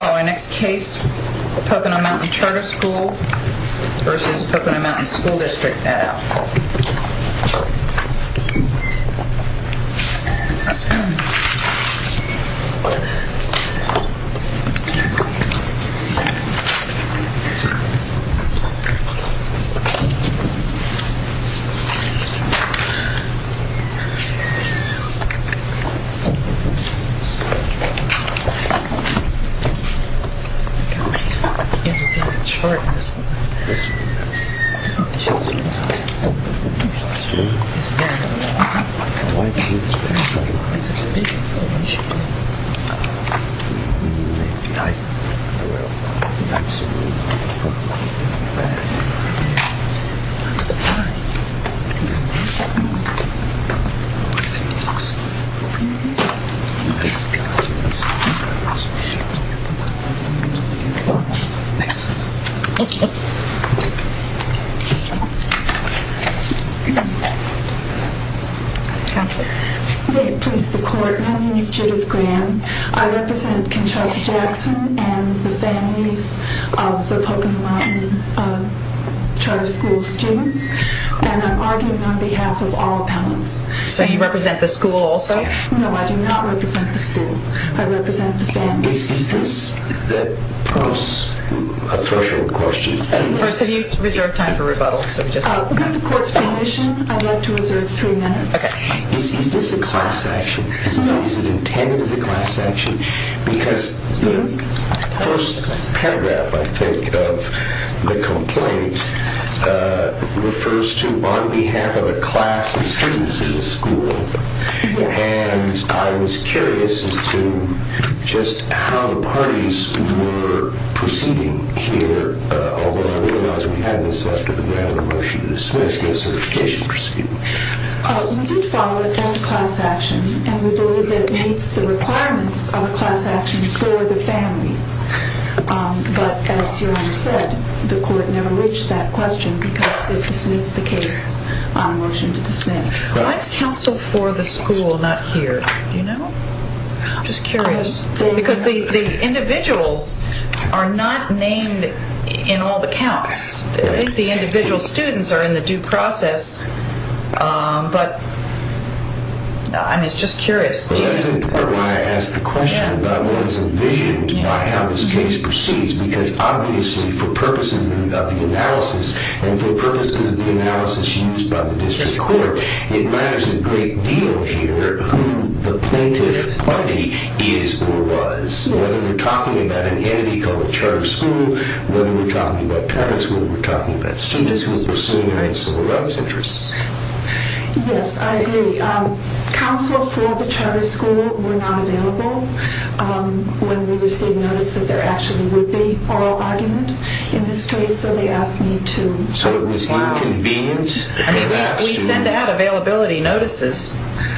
Our next case, Pocono Mountain Charter School v. Pocono Mountain School District at Alcoa. Pocono Mountain School District at Alcoa. May it please the court, my name is Judith Graham. I represent Conchita Jackson and the families of the Pocono Mountain Charter School students. And I'm arguing on behalf of all appellants. So you represent the school also? No, I do not represent the school. I represent the families. Is this a threshold question? First, have you reserved time for rebuttal? With the court's permission, I'd like to reserve three minutes. Is this a class action? Is it intended as a class action? Because the first paragraph, I think, of the complaint refers to on behalf of a class of students in the school. And I was curious as to just how the parties were proceeding here. Although I realize we had this after the grant of a motion to dismiss the certification procedure. We did follow it as a class action and we believe it meets the requirements of a class action for the families. But as your Honor said, the court never reached that question because it dismissed the case on a motion to dismiss. Why is counsel for the school not here? Do you know? I'm just curious. Because the individuals are not named in all the counts. I think the individual students are in the due process, but I'm just curious. That's in part why I asked the question about what is envisioned by how this case proceeds. Because obviously, for purposes of the analysis and for purposes of the analysis used by the district court, it matters a great deal here who the plaintiff party is or was. Whether we're talking about an entity called the charter school, whether we're talking about parents, whether we're talking about students who are pursuing civil rights interests. Yes, I agree. Counsel for the charter school were not available when we received notice that there actually would be oral argument in this case. So they asked me to... So it was inconvenient? We send out availability notices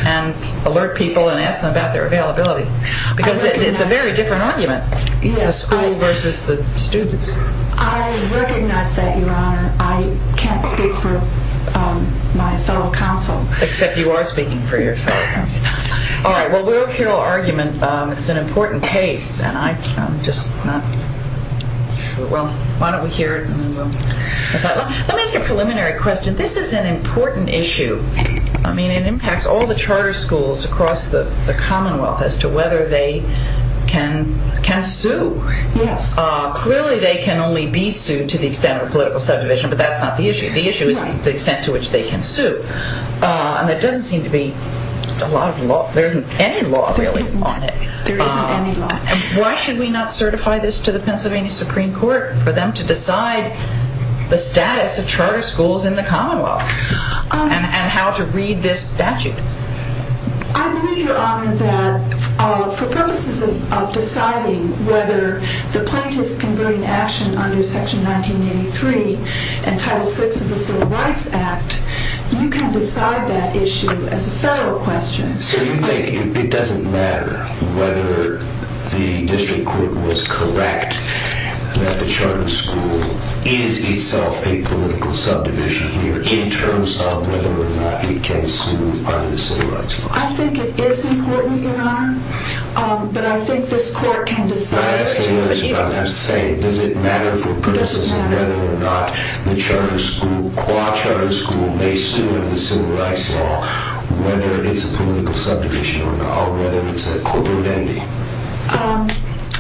and alert people and ask them about their availability. Because it's a very different argument, the school versus the students. I recognize that, Your Honor. I can't speak for my fellow counsel. Except you are speaking for your fellow counsel. All right, well, we'll hear oral argument. It's an important case and I'm just not... Well, why don't we hear it and then we'll decide. Let me ask a preliminary question. This is an important issue. I mean, it impacts all the charter schools across the Commonwealth as to whether they can sue. Yes. Clearly they can only be sued to the extent of a political subdivision, but that's not the issue. The issue is the extent to which they can sue. And there doesn't seem to be a lot of law. There isn't any law really on it. There isn't any law. Why should we not certify this to the Pennsylvania Supreme Court for them to decide the status of charter schools in the Commonwealth? And how to read this statute? I believe, Your Honor, that for purposes of deciding whether the plaintiffs can bring action under Section 1983 and Title VI of the Civil Rights Act, you can decide that issue as a federal question. So you think it doesn't matter whether the district court was correct that the charter school is itself a political subdivision in terms of whether or not it can sue under the civil rights law? I think it is important, Your Honor, but I think this court can decide. I'm asking you this without having to say it. Does it matter for purposes of whether or not the charter school, qua charter school, may sue under the civil rights law, whether it's a political subdivision or not, or whether it's a corporate entity?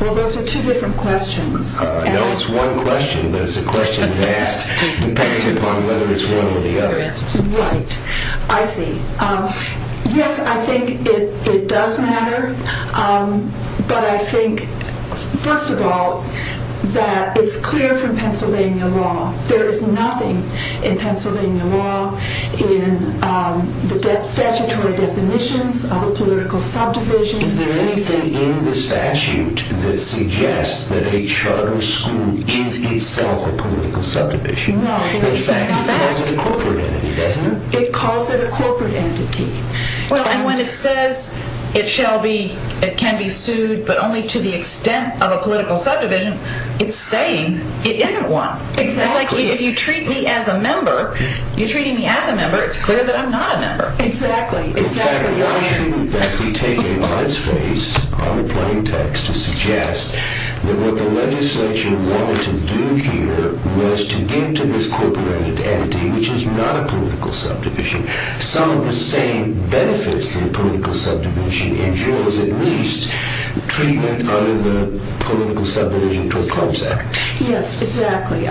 Well, those are two different questions. No, it's one question, but it's a question that depends upon whether it's one or the other. Right. I see. Yes, I think it does matter, but I think, first of all, that it's clear from Pennsylvania law. There is nothing in Pennsylvania law in the statutory definitions of a political subdivision. Is there anything in the statute that suggests that a charter school is itself a political subdivision? No. In fact, it calls it a corporate entity, doesn't it? It calls it a corporate entity. Well, and when it says it can be sued but only to the extent of a political subdivision, it's saying it isn't one. Exactly. It's like if you treat me as a member, you're treating me as a member. It's clear that I'm not a member. Exactly. In fact, why shouldn't that be taken on its face, on the plain text, to suggest that what the legislature wanted to do here was to give to this corporate entity, which is not a political subdivision, some of the same benefits that a political subdivision endures, at least, treatment under the Political Subdivision to Oppose Act? Yes, exactly. The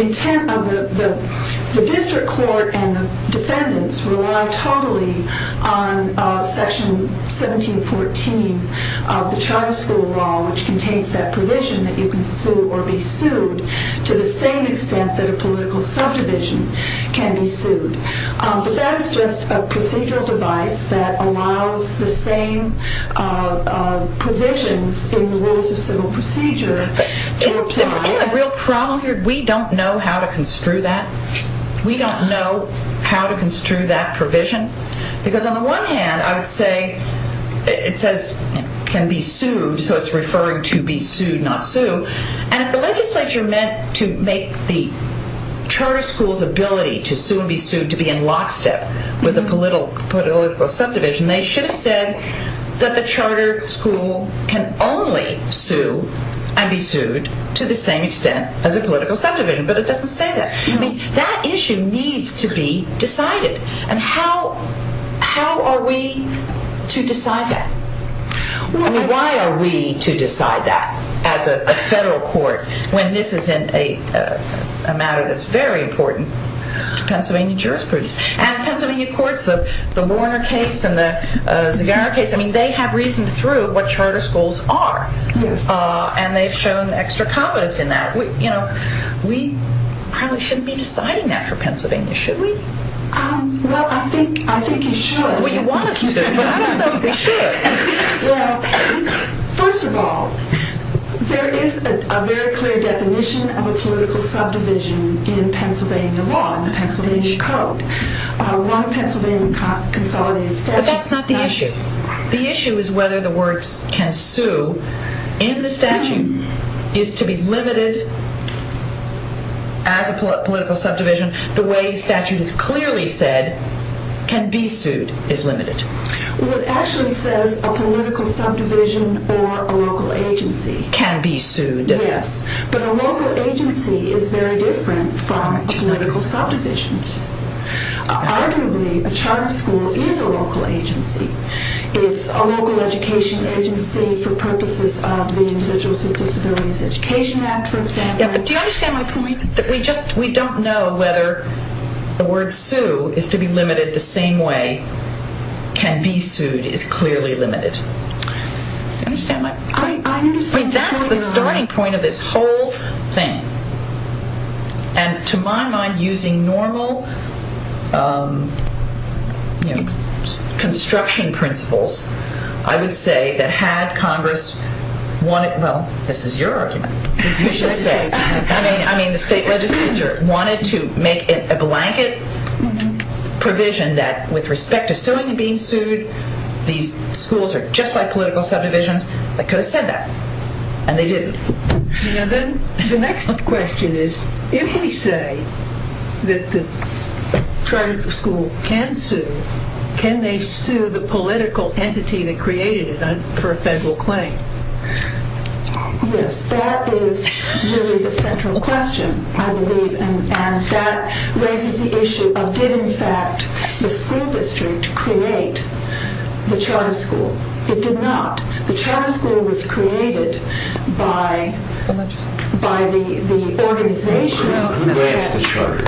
intent of the district court and the defendants rely totally on Section 1714 of the charter school law, which contains that provision that you can sue or be sued to the same extent that a political subdivision can be sued. But that is just a procedural device that allows the same provisions in the Rules of Civil Procedure to apply. Isn't that a real problem here? We don't know how to construe that. We don't know how to construe that provision. Because on the one hand, I would say it says can be sued, so it's referring to be sued, not sue. And if the legislature meant to make the charter school's ability to sue and be sued to be in lockstep with a political subdivision, they should have said that the charter school can only sue and be sued to the same extent as a political subdivision. But it doesn't say that. That issue needs to be decided. And how are we to decide that? Why are we to decide that as a federal court when this is a matter that's very important to Pennsylvania jurisprudence? And Pennsylvania courts, the Warner case and the Zegarra case, they have reasoned through what charter schools are. And they've shown extra competence in that. We probably shouldn't be deciding that for Pennsylvania, should we? Well, I think you should. Well, you want us to, but I don't think we should. Well, first of all, there is a very clear definition of a political subdivision in Pennsylvania law, in the Pennsylvania code. One Pennsylvania consolidated statute. But that's not the issue. The issue is whether the words can sue in the statute is to be limited as a political subdivision. The way the statute has clearly said can be sued is limited. Well, it actually says a political subdivision or a local agency. Can be sued. Yes. But a local agency is very different from a political subdivision. Arguably, a charter school is a local agency. It's a local education agency for purposes of the Individuals with Disabilities Education Act, for example. Do you understand my point? We don't know whether the word sue is to be limited the same way can be sued is clearly limited. Do you understand my point? I understand your point. That's the starting point of this whole thing. And to my mind, using normal construction principles, I would say that had Congress wanted, well, this is your argument. I mean, the state legislature wanted to make it a blanket provision that with respect to suing and being sued, these schools are just like political subdivisions, they could have said that. And they didn't. The next question is, if we say that the charter school can sue, can they sue the political entity that created it for a federal claim? Yes. That is really the central question, I believe. And that raises the issue of did, in fact, the school district create the charter school? It did not. The charter school was created by the organization. Who grants the charter?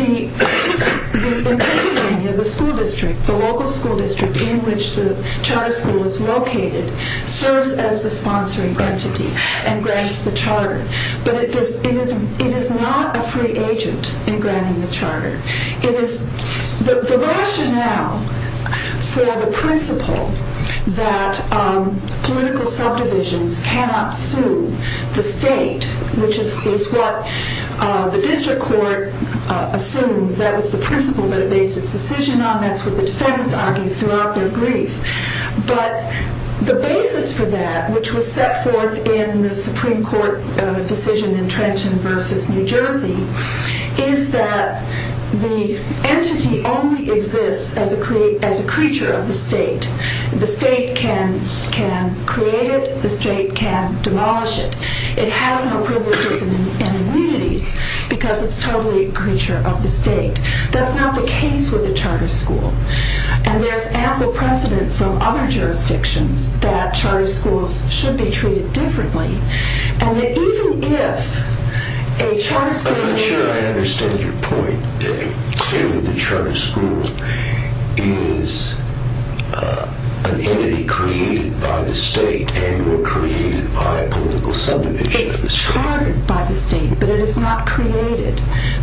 In Pennsylvania, the school district, the local school district in which the charter school is located, serves as the sponsoring entity and grants the charter. But it is not a free agent in granting the charter. The rationale for the principle that political subdivisions cannot sue the state, which is what the district court assumed that was the principle that it based its decision on, that's what the defendants argued throughout their brief. But the basis for that, which was set forth in the Supreme Court decision in Trenton v. New Jersey, is that the entity only exists as a creature of the state. The state can create it. The state can demolish it. It has no privileges and immunities because it's totally a creature of the state. That's not the case with the charter school. And there's ample precedent from other jurisdictions that charter schools should be treated differently. And that even if a charter school... I'm not sure I understand your point. Clearly the charter school is an entity created by the state and or created by a political subdivision of the state. It's chartered by the state, but it is not created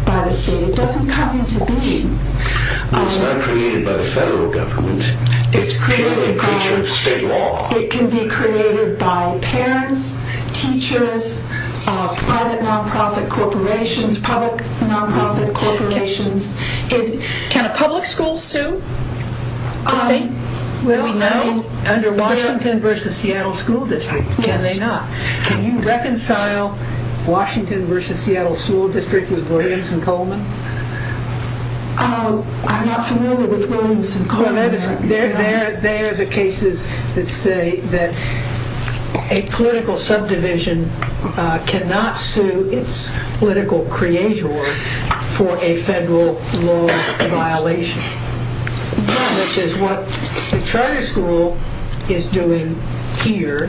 by the state. It doesn't come into being. It's not created by the federal government. It's created by... It's purely a creature of state law. It can be created by parents, teachers, private nonprofit corporations, public nonprofit corporations. Can a public school sue the state? We know under Washington v. Seattle School District. Can they not? Can you reconcile Washington v. Seattle School District with Williams and Coleman? I'm not familiar with Williams and Coleman. They are the cases that say that a political subdivision cannot sue its political creator for a federal law violation, which is what the charter school is doing here,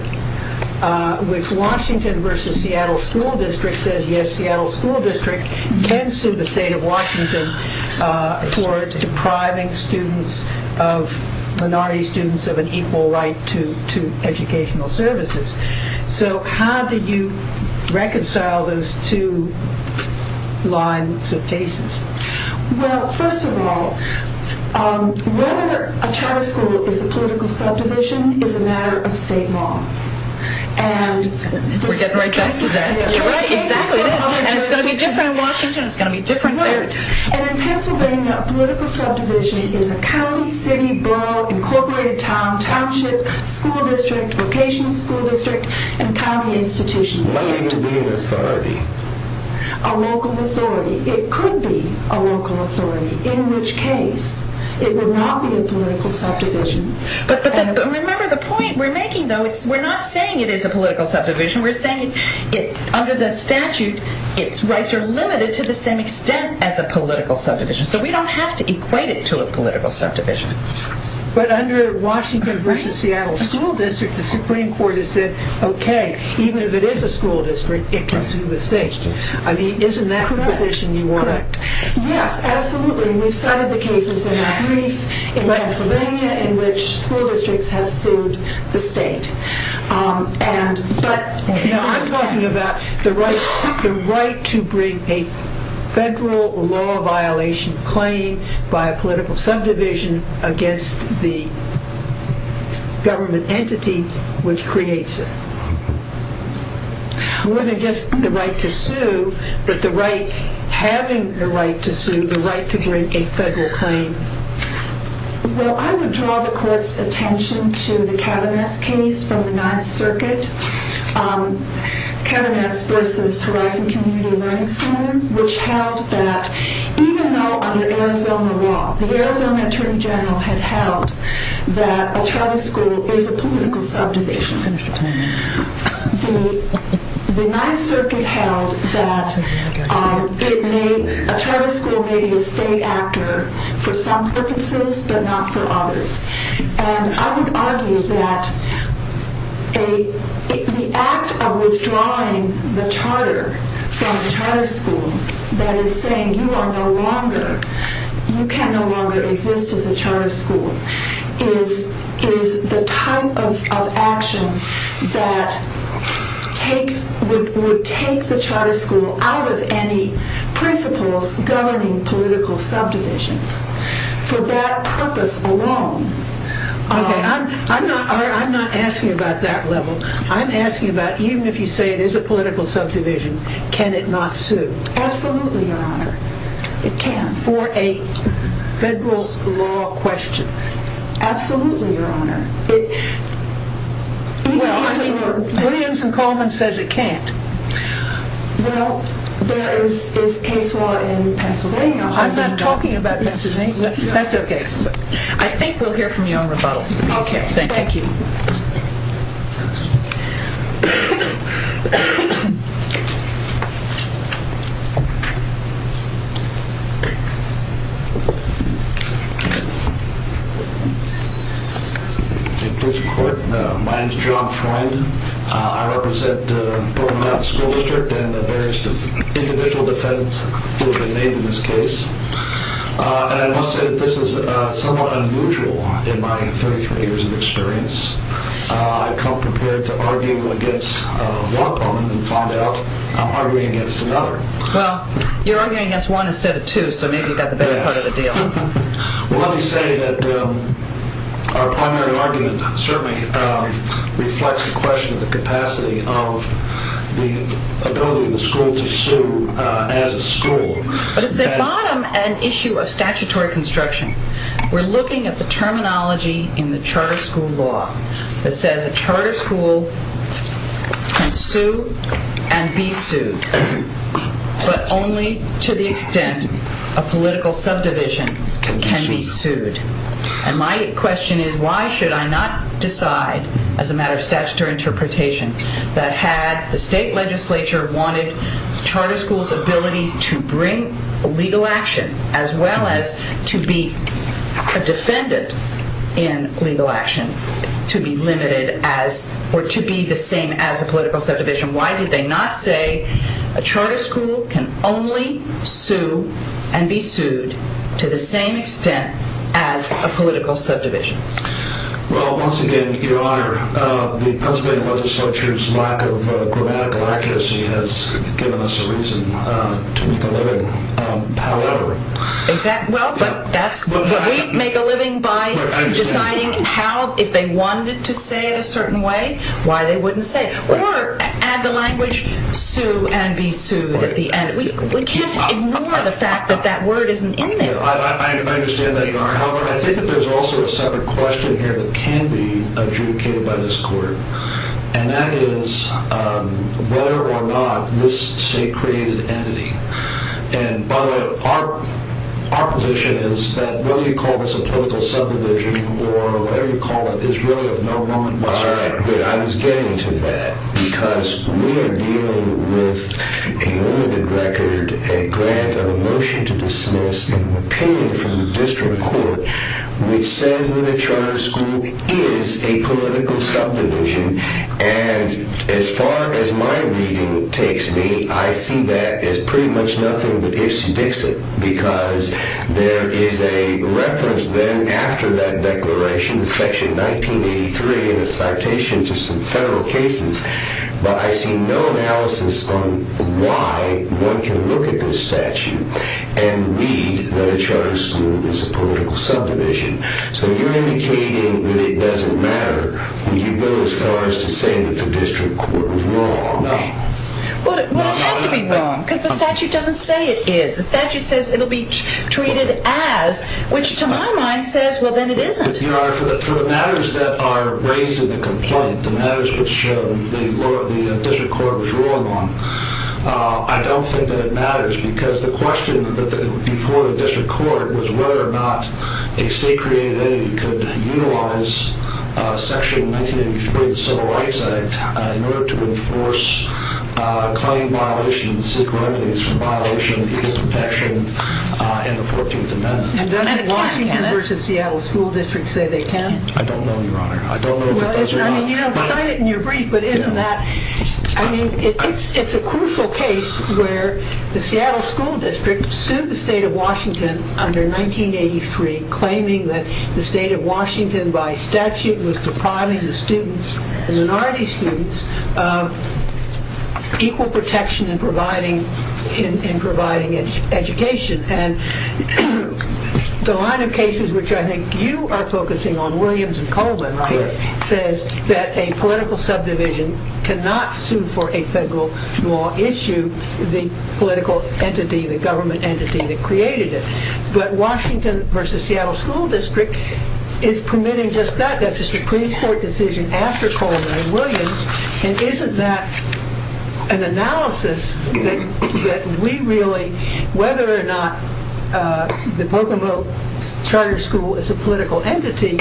which Washington v. Seattle School District says, can sue the state of Washington for depriving students of... minority students of an equal right to educational services. So how do you reconcile those two lines of cases? Well, first of all, whether a charter school is a political subdivision is a matter of state law. We're getting right back to that. Exactly. It's going to be different in Washington. It's going to be different there. And in Pennsylvania, a political subdivision is a county, city, borough, incorporated town, township, school district, vocational school district, and county institutional district. Why would it be an authority? A local authority. It could be a local authority, in which case it would not be a political subdivision. Remember the point we're making, though. We're not saying it is a political subdivision. We're saying under the statute, its rights are limited to the same extent as a political subdivision. So we don't have to equate it to a political subdivision. But under Washington v. Seattle School District, the Supreme Court has said, okay, even if it is a school district, it can sue the state. I mean, isn't that the position you want to... Correct. Yes, absolutely. We've cited the cases in our brief in Pennsylvania in which school districts have sued the state. But... I'm talking about the right to bring a federal law violation claim by a political subdivision against the government entity which creates it. More than just the right to sue, but the right, having the right to sue, the right to bring a federal claim. Well, I would draw the court's attention to the Kavanaugh case from the Ninth Circuit, Kavanaugh v. Horizon Community Learning Center, which held that even though under Arizona law, the Arizona Attorney General had held that a charter school is a political subdivision, the Ninth Circuit held that a charter school may be a state actor for some purposes but not for others. And I would argue that the act of withdrawing the charter from the charter school, that is saying you are no longer, you can no longer exist as a charter school, is the type of action that would take the charter school out of any principles governing political subdivisions for that purpose alone. Okay, I'm not asking about that level. I'm asking about even if you say it is a political subdivision, can it not sue? Absolutely, Your Honor, it can. For a federal law question? Absolutely, Your Honor. Williams and Coleman says it can't. Well, there is case law in Pennsylvania. I'm not talking about Pennsylvania. That's okay. I think we'll hear from you on rebuttal. Okay, thank you. My name is John Freund. I represent Broken Mountain School District and the various individual defendants who have been named in this case. And I must say that this is somewhat unusual in my 33 years of experience. I've come prepared to argue against one problem and found out I'm arguing against another. Well, you're arguing against one instead of two, so maybe you've got the better part of the deal. Well, let me say that our primary argument certainly reflects the question of the capacity of the ability of the school to sue as a school. But it's at bottom an issue of statutory construction. We're looking at the terminology in the charter school law that says a charter school can sue and be sued, but only to the extent a political subdivision can be sued. And my question is, why should I not decide, as a matter of statutory interpretation, that had the state legislature wanted the charter school's ability to bring legal action as well as to be a defendant in legal action to be limited as or to be the same as a political subdivision, why did they not say a charter school can only sue and be sued to the same extent as a political subdivision? Well, once again, Your Honor, the Pennsylvania legislature's lack of grammatical accuracy has given us a reason to make a living. However... Well, but we make a living by deciding how, if they wanted to say it a certain way, why they wouldn't say it. Or, add the language, sue and be sued at the end. We can't ignore the fact that that word isn't in there. I understand that, Your Honor. However, I think that there's also a separate question here that can be adjudicated by this court, and that is whether or not this state created an entity. And by the way, our position is that whether you call this a political subdivision or whatever you call it is really of no moment in time. All right, good. I was getting to that, because we are dealing with a limited record and grant of a motion to dismiss an opinion from the district court which says that a charter school is a political subdivision. And as far as my reading takes me, I see that as pretty much nothing but ifs and ifsits, because there is a reference then, after that declaration, Section 1983, and a citation to some federal cases, but I see no analysis on why one can look at this statute and read that a charter school is a political subdivision. So you're indicating that it doesn't matter when you go as far as to say that the district court was wrong. No. Well, it would have to be wrong, because the statute doesn't say it is. The statute says it will be treated as, which to my mind says, well, then it isn't. Your Honor, for the matters that are raised in the complaint, the matters which the district court was ruling on, I don't think that it matters, because the question before the district court was whether or not a state-created entity could utilize Section 1983 of the Civil Rights Act in order to enforce a claim violation and seek remedies for violation of people's protection in the 14th Amendment. And doesn't Washington v. Seattle School District say they can? I don't know, Your Honor. Well, you don't cite it in your brief, but isn't that... I mean, it's a crucial case where the Seattle School District sued the state of Washington under 1983, claiming that the state of Washington, by statute, was depriving the students, the minority students, of equal protection in providing education. And the line of cases which I think you are focusing on, Williams and Coleman, right, says that a political subdivision cannot sue for a federal law issue the political entity, the government entity that created it. But Washington v. Seattle School District is permitting just that. That's a Supreme Court decision after Coleman and Williams, and isn't that an analysis that we really, whether or not the Boca Mota Charter School is a political entity,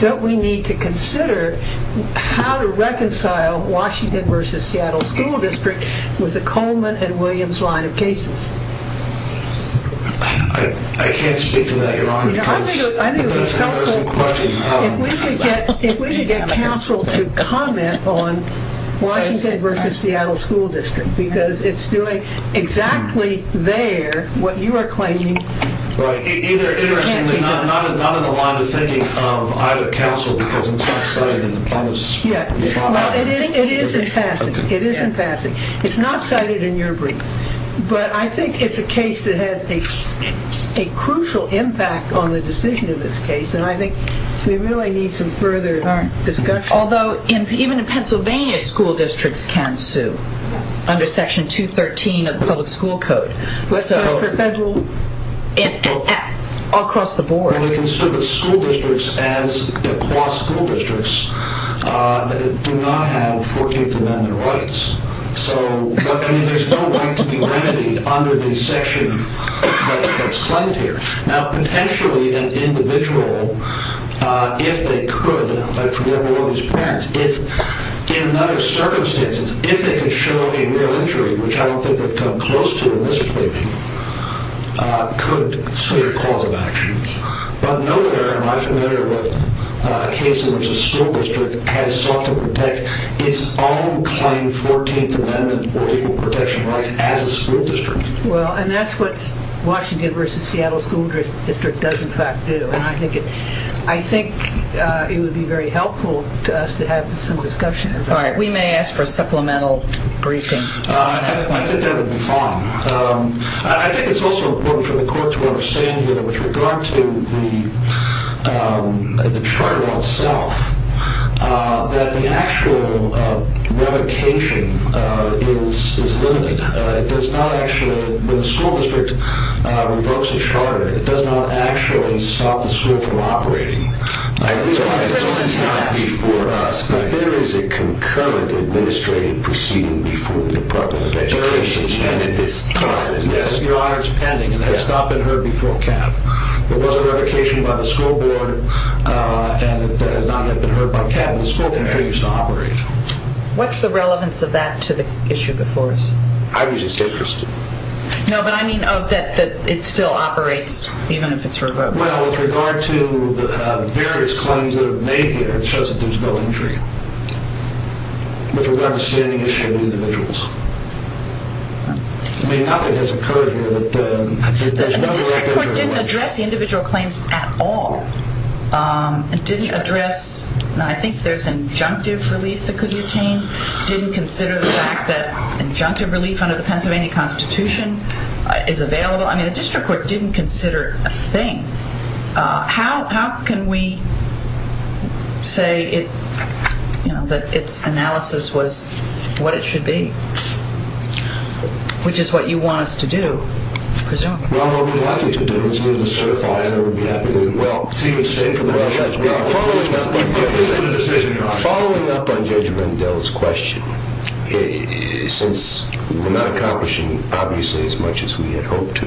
don't we need to consider how to reconcile Washington v. Seattle School District with the Coleman and Williams line of cases? I can't speak to that, Your Honor. I think it would be helpful if we could get counsel to comment on Washington v. Seattle School District because it's doing exactly there what you are claiming. Right. Interestingly, not in the line of thinking of either counsel because it's not cited in the promise. It is in passing. It is in passing. It's not cited in your brief. But I think it's a case that has a crucial impact on the decision of this case, and I think we really need some further discussion. Although, even in Pennsylvania, school districts can sue under Section 213 of the Public School Code. What's that for federal? Across the board. They can sue the school districts as law school districts that do not have 14th Amendment rights. There's no right to be remedied under the section that's claimed here. Now, potentially an individual, if they could, like for example one of these parents, if in none of the circumstances, if they could show a real injury, which I don't think they've come close to in this case, could sue the cause of action. But nowhere am I familiar with a case in which a school district has sought to protect its own claimed 14th Amendment or legal protection rights as a school district. And that's what Washington v. Seattle School District does in fact do. I think it would be very helpful to us to have some discussion. All right, we may ask for a supplemental briefing. I think that would be fine. I think it's also important for the court to understand that with regard to the charter itself, that the actual revocation is limited. It does not actually stop the school from operating. It's not before us. There is a concurrent administrative proceeding before the Department of Education. It's pending at this time. Your Honor, it's pending. It has not been heard before CAP. There was a revocation by the school board and it has not yet been heard by CAP. The school continues to operate. What's the relevance of that to the issue before us? I'd be just interested. No, but I mean that it still operates even if it's revoked. Well, with regard to the various claims that are made here, it shows that there's no injury. With regard to the standing issue of the individuals. I mean, nothing has occurred here that there's no direct injury. The district court didn't address the individual claims at all. It didn't address, and I think there's injunctive relief that could be obtained. It didn't consider the fact that injunctive relief under the Pennsylvania Constitution is available. I mean, the district court didn't consider a thing. How can we say that its analysis was what it should be, which is what you want us to do, presumably? Well, what we'd like you to do is move to certify and I would be happy to do it. Well, see what the state of the matter says. We are following up on Judge Rendell's question. Since we're not accomplishing, obviously, as much as we had hoped to,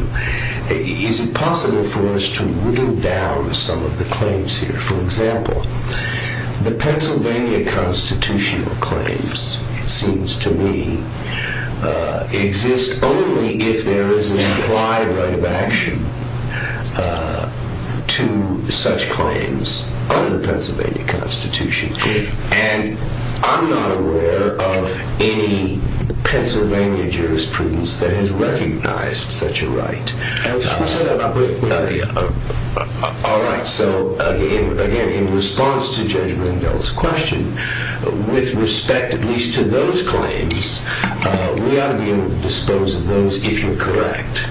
is it possible for us to whittle down some of the claims here? For example, the Pennsylvania Constitutional claims, it seems to me, exist only if there is an implied right of action to such claims under the Pennsylvania Constitution. And I'm not aware of any Pennsylvania jurisprudence that has recognized such a right. All right. So, again, in response to Judge Rendell's question, with respect at least to those claims, we ought to be able to dispose of those if you're correct.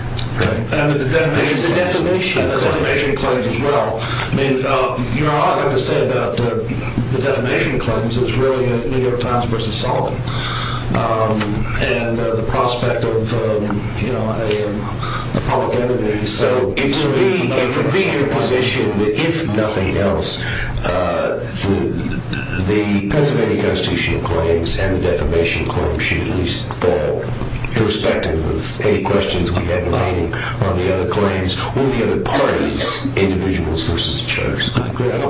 And the defamation claims as well. You know, all I've got to say about the defamation claims is really a New York Times versus Sullivan and the prospect of a public enemy. So it would be your position that if nothing else, the Pennsylvania Constitutional claims and the defamation claims should at least fall, irrespective of any questions we have on the other claims or the other parties, individuals versus judges. I agree. I'd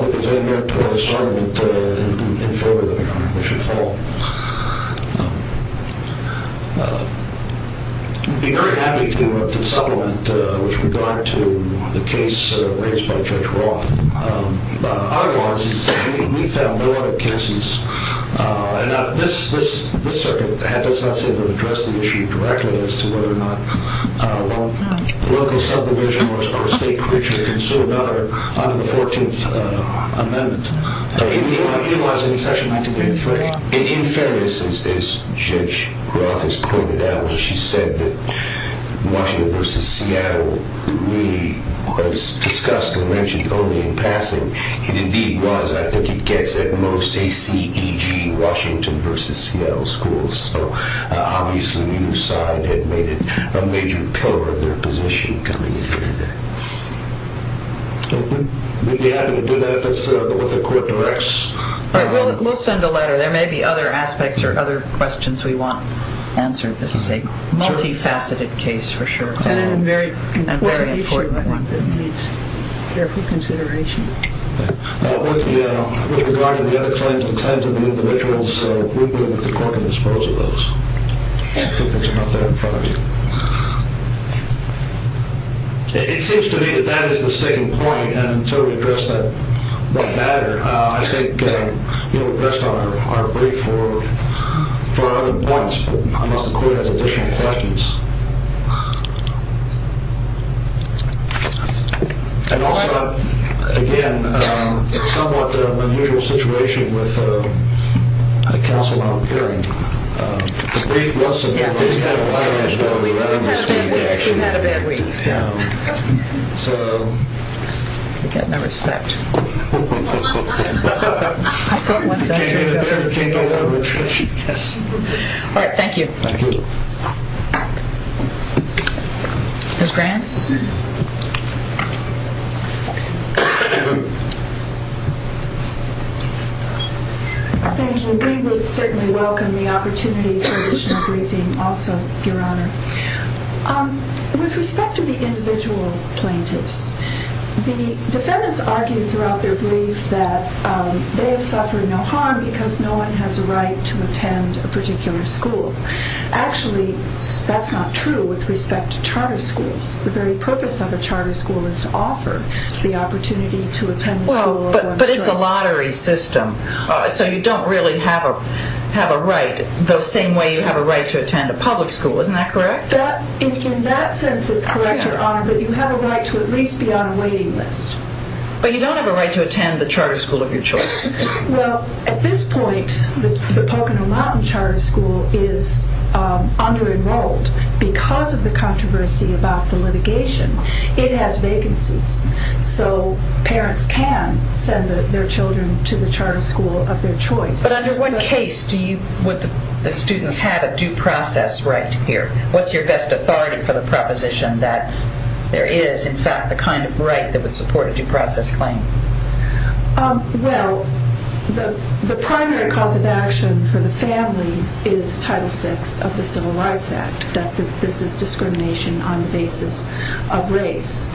be very happy to supplement with regard to the case raised by Judge Roth. Our law is that we found no other cases, and this circuit does not seem to address the issue directly as to whether or not local subdivision or state courts should consider another under the 14th Amendment. It was in section 19.3. In fairness, as Judge Roth has pointed out, she said that Washington versus Seattle really was discussed and mentioned only in passing. It indeed was. I think it gets at most A-C-E-G, Washington versus Seattle schools. So obviously neither side had made it a major pillar of their position. We'd be happy to do that if that's what the court directs. All right. We'll send a letter. There may be other aspects or other questions we want answered. This is a multifaceted case, for sure. And a very important one that needs careful consideration. With regard to the other claims and claims of the individuals, we'll do what the court can dispose of those. I think there's enough there in front of you. It seems to me that that is the sticking point, and until we address that matter, I think we're pressed on our brief for other points unless the court has additional questions. And also, again, it's somewhat an unusual situation with a counsel not appearing. The brief was submitted, but it didn't have a letter in it, so we're running the speed, actually. We had a bad week. We had a bad week. Yeah. So... You've got no respect. I thought once I heard... You can't get a letter. Yes. All right. Thank you. Thank you. Ms. Graham? Thank you. We would certainly welcome the opportunity for additional briefing also, Your Honor. With respect to the individual plaintiffs, the defendants argued throughout their brief that they have suffered no harm because no one has a right to attend a particular school. Actually, that's not true with respect to charter schools. The very purpose of a charter school is to offer the opportunity to attend a school of one's choice. Well, but it's a lottery system, so you don't really have a right the same way you have a right to attend a public school. Isn't that correct? In that sense, it's correct, Your Honor, but you have a right to at least be on a waiting list. But you don't have a right to attend the charter school of your choice. Well, at this point, the Pocono Mountain Charter School is under-enrolled. Because of the controversy about the litigation, it has vacancies. So parents can send their children to the charter school of their choice. But under what case would the students have a due process right here? What's your best authority for the proposition that there is, in fact, the kind of right that would support a due process claim? Well, the primary cause of action for the families is Title VI of the Civil Rights Act, that this is discrimination on the basis of race.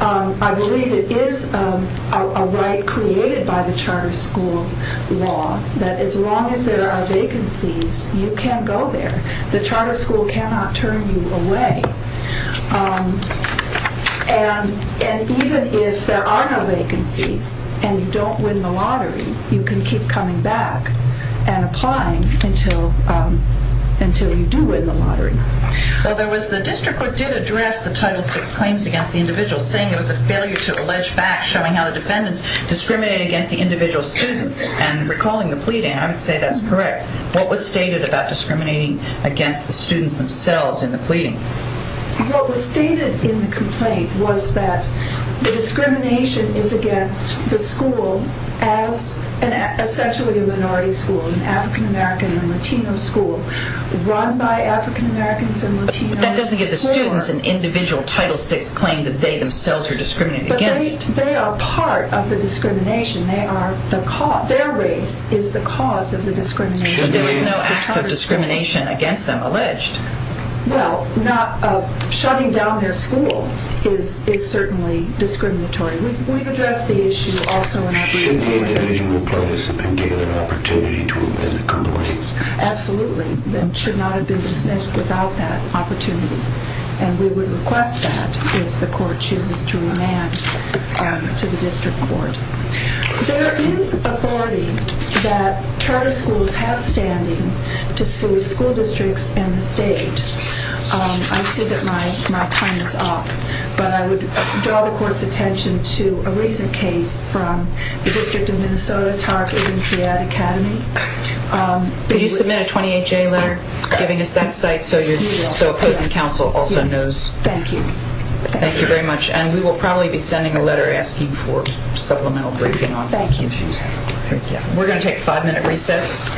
I believe it is a right created by the charter school law that as long as there are vacancies, you can go there. The charter school cannot turn you away. And even if there are no vacancies and you don't win the lottery, you can keep coming back and applying until you do win the lottery. Well, the district court did address the Title VI claims against the individual, saying it was a failure to allege facts showing how the defendants discriminated against the individual students. And recalling the pleading, I would say that's correct. What was stated in the complaint was that the discrimination is against the school as essentially a minority school, an African-American and Latino school, run by African-Americans and Latinos. But that doesn't give the students an individual Title VI claim that they themselves are discriminated against. But they are part of the discrimination. Their race is the cause of the discrimination. There were no acts of discrimination against them alleged. Well, shutting down their school is certainly discriminatory. We've addressed the issue also in our brief hearing. Should the individual be placed and given an opportunity to win the complaint? Absolutely. That should not have been dismissed without that opportunity. And we would request that if the court chooses to remand to the district court. There is authority that charter schools have standing to sue school districts and the state. I see that my time is up. But I would draw the court's attention to a recent case from the District of Minnesota Target and Seat Academy. Could you submit a 28-J letter giving us that site so opposing counsel also knows? Thank you. Thank you very much. And we will probably be sending a letter asking for supplemental briefing on these issues. Thank you. We're going to take a five-minute recess.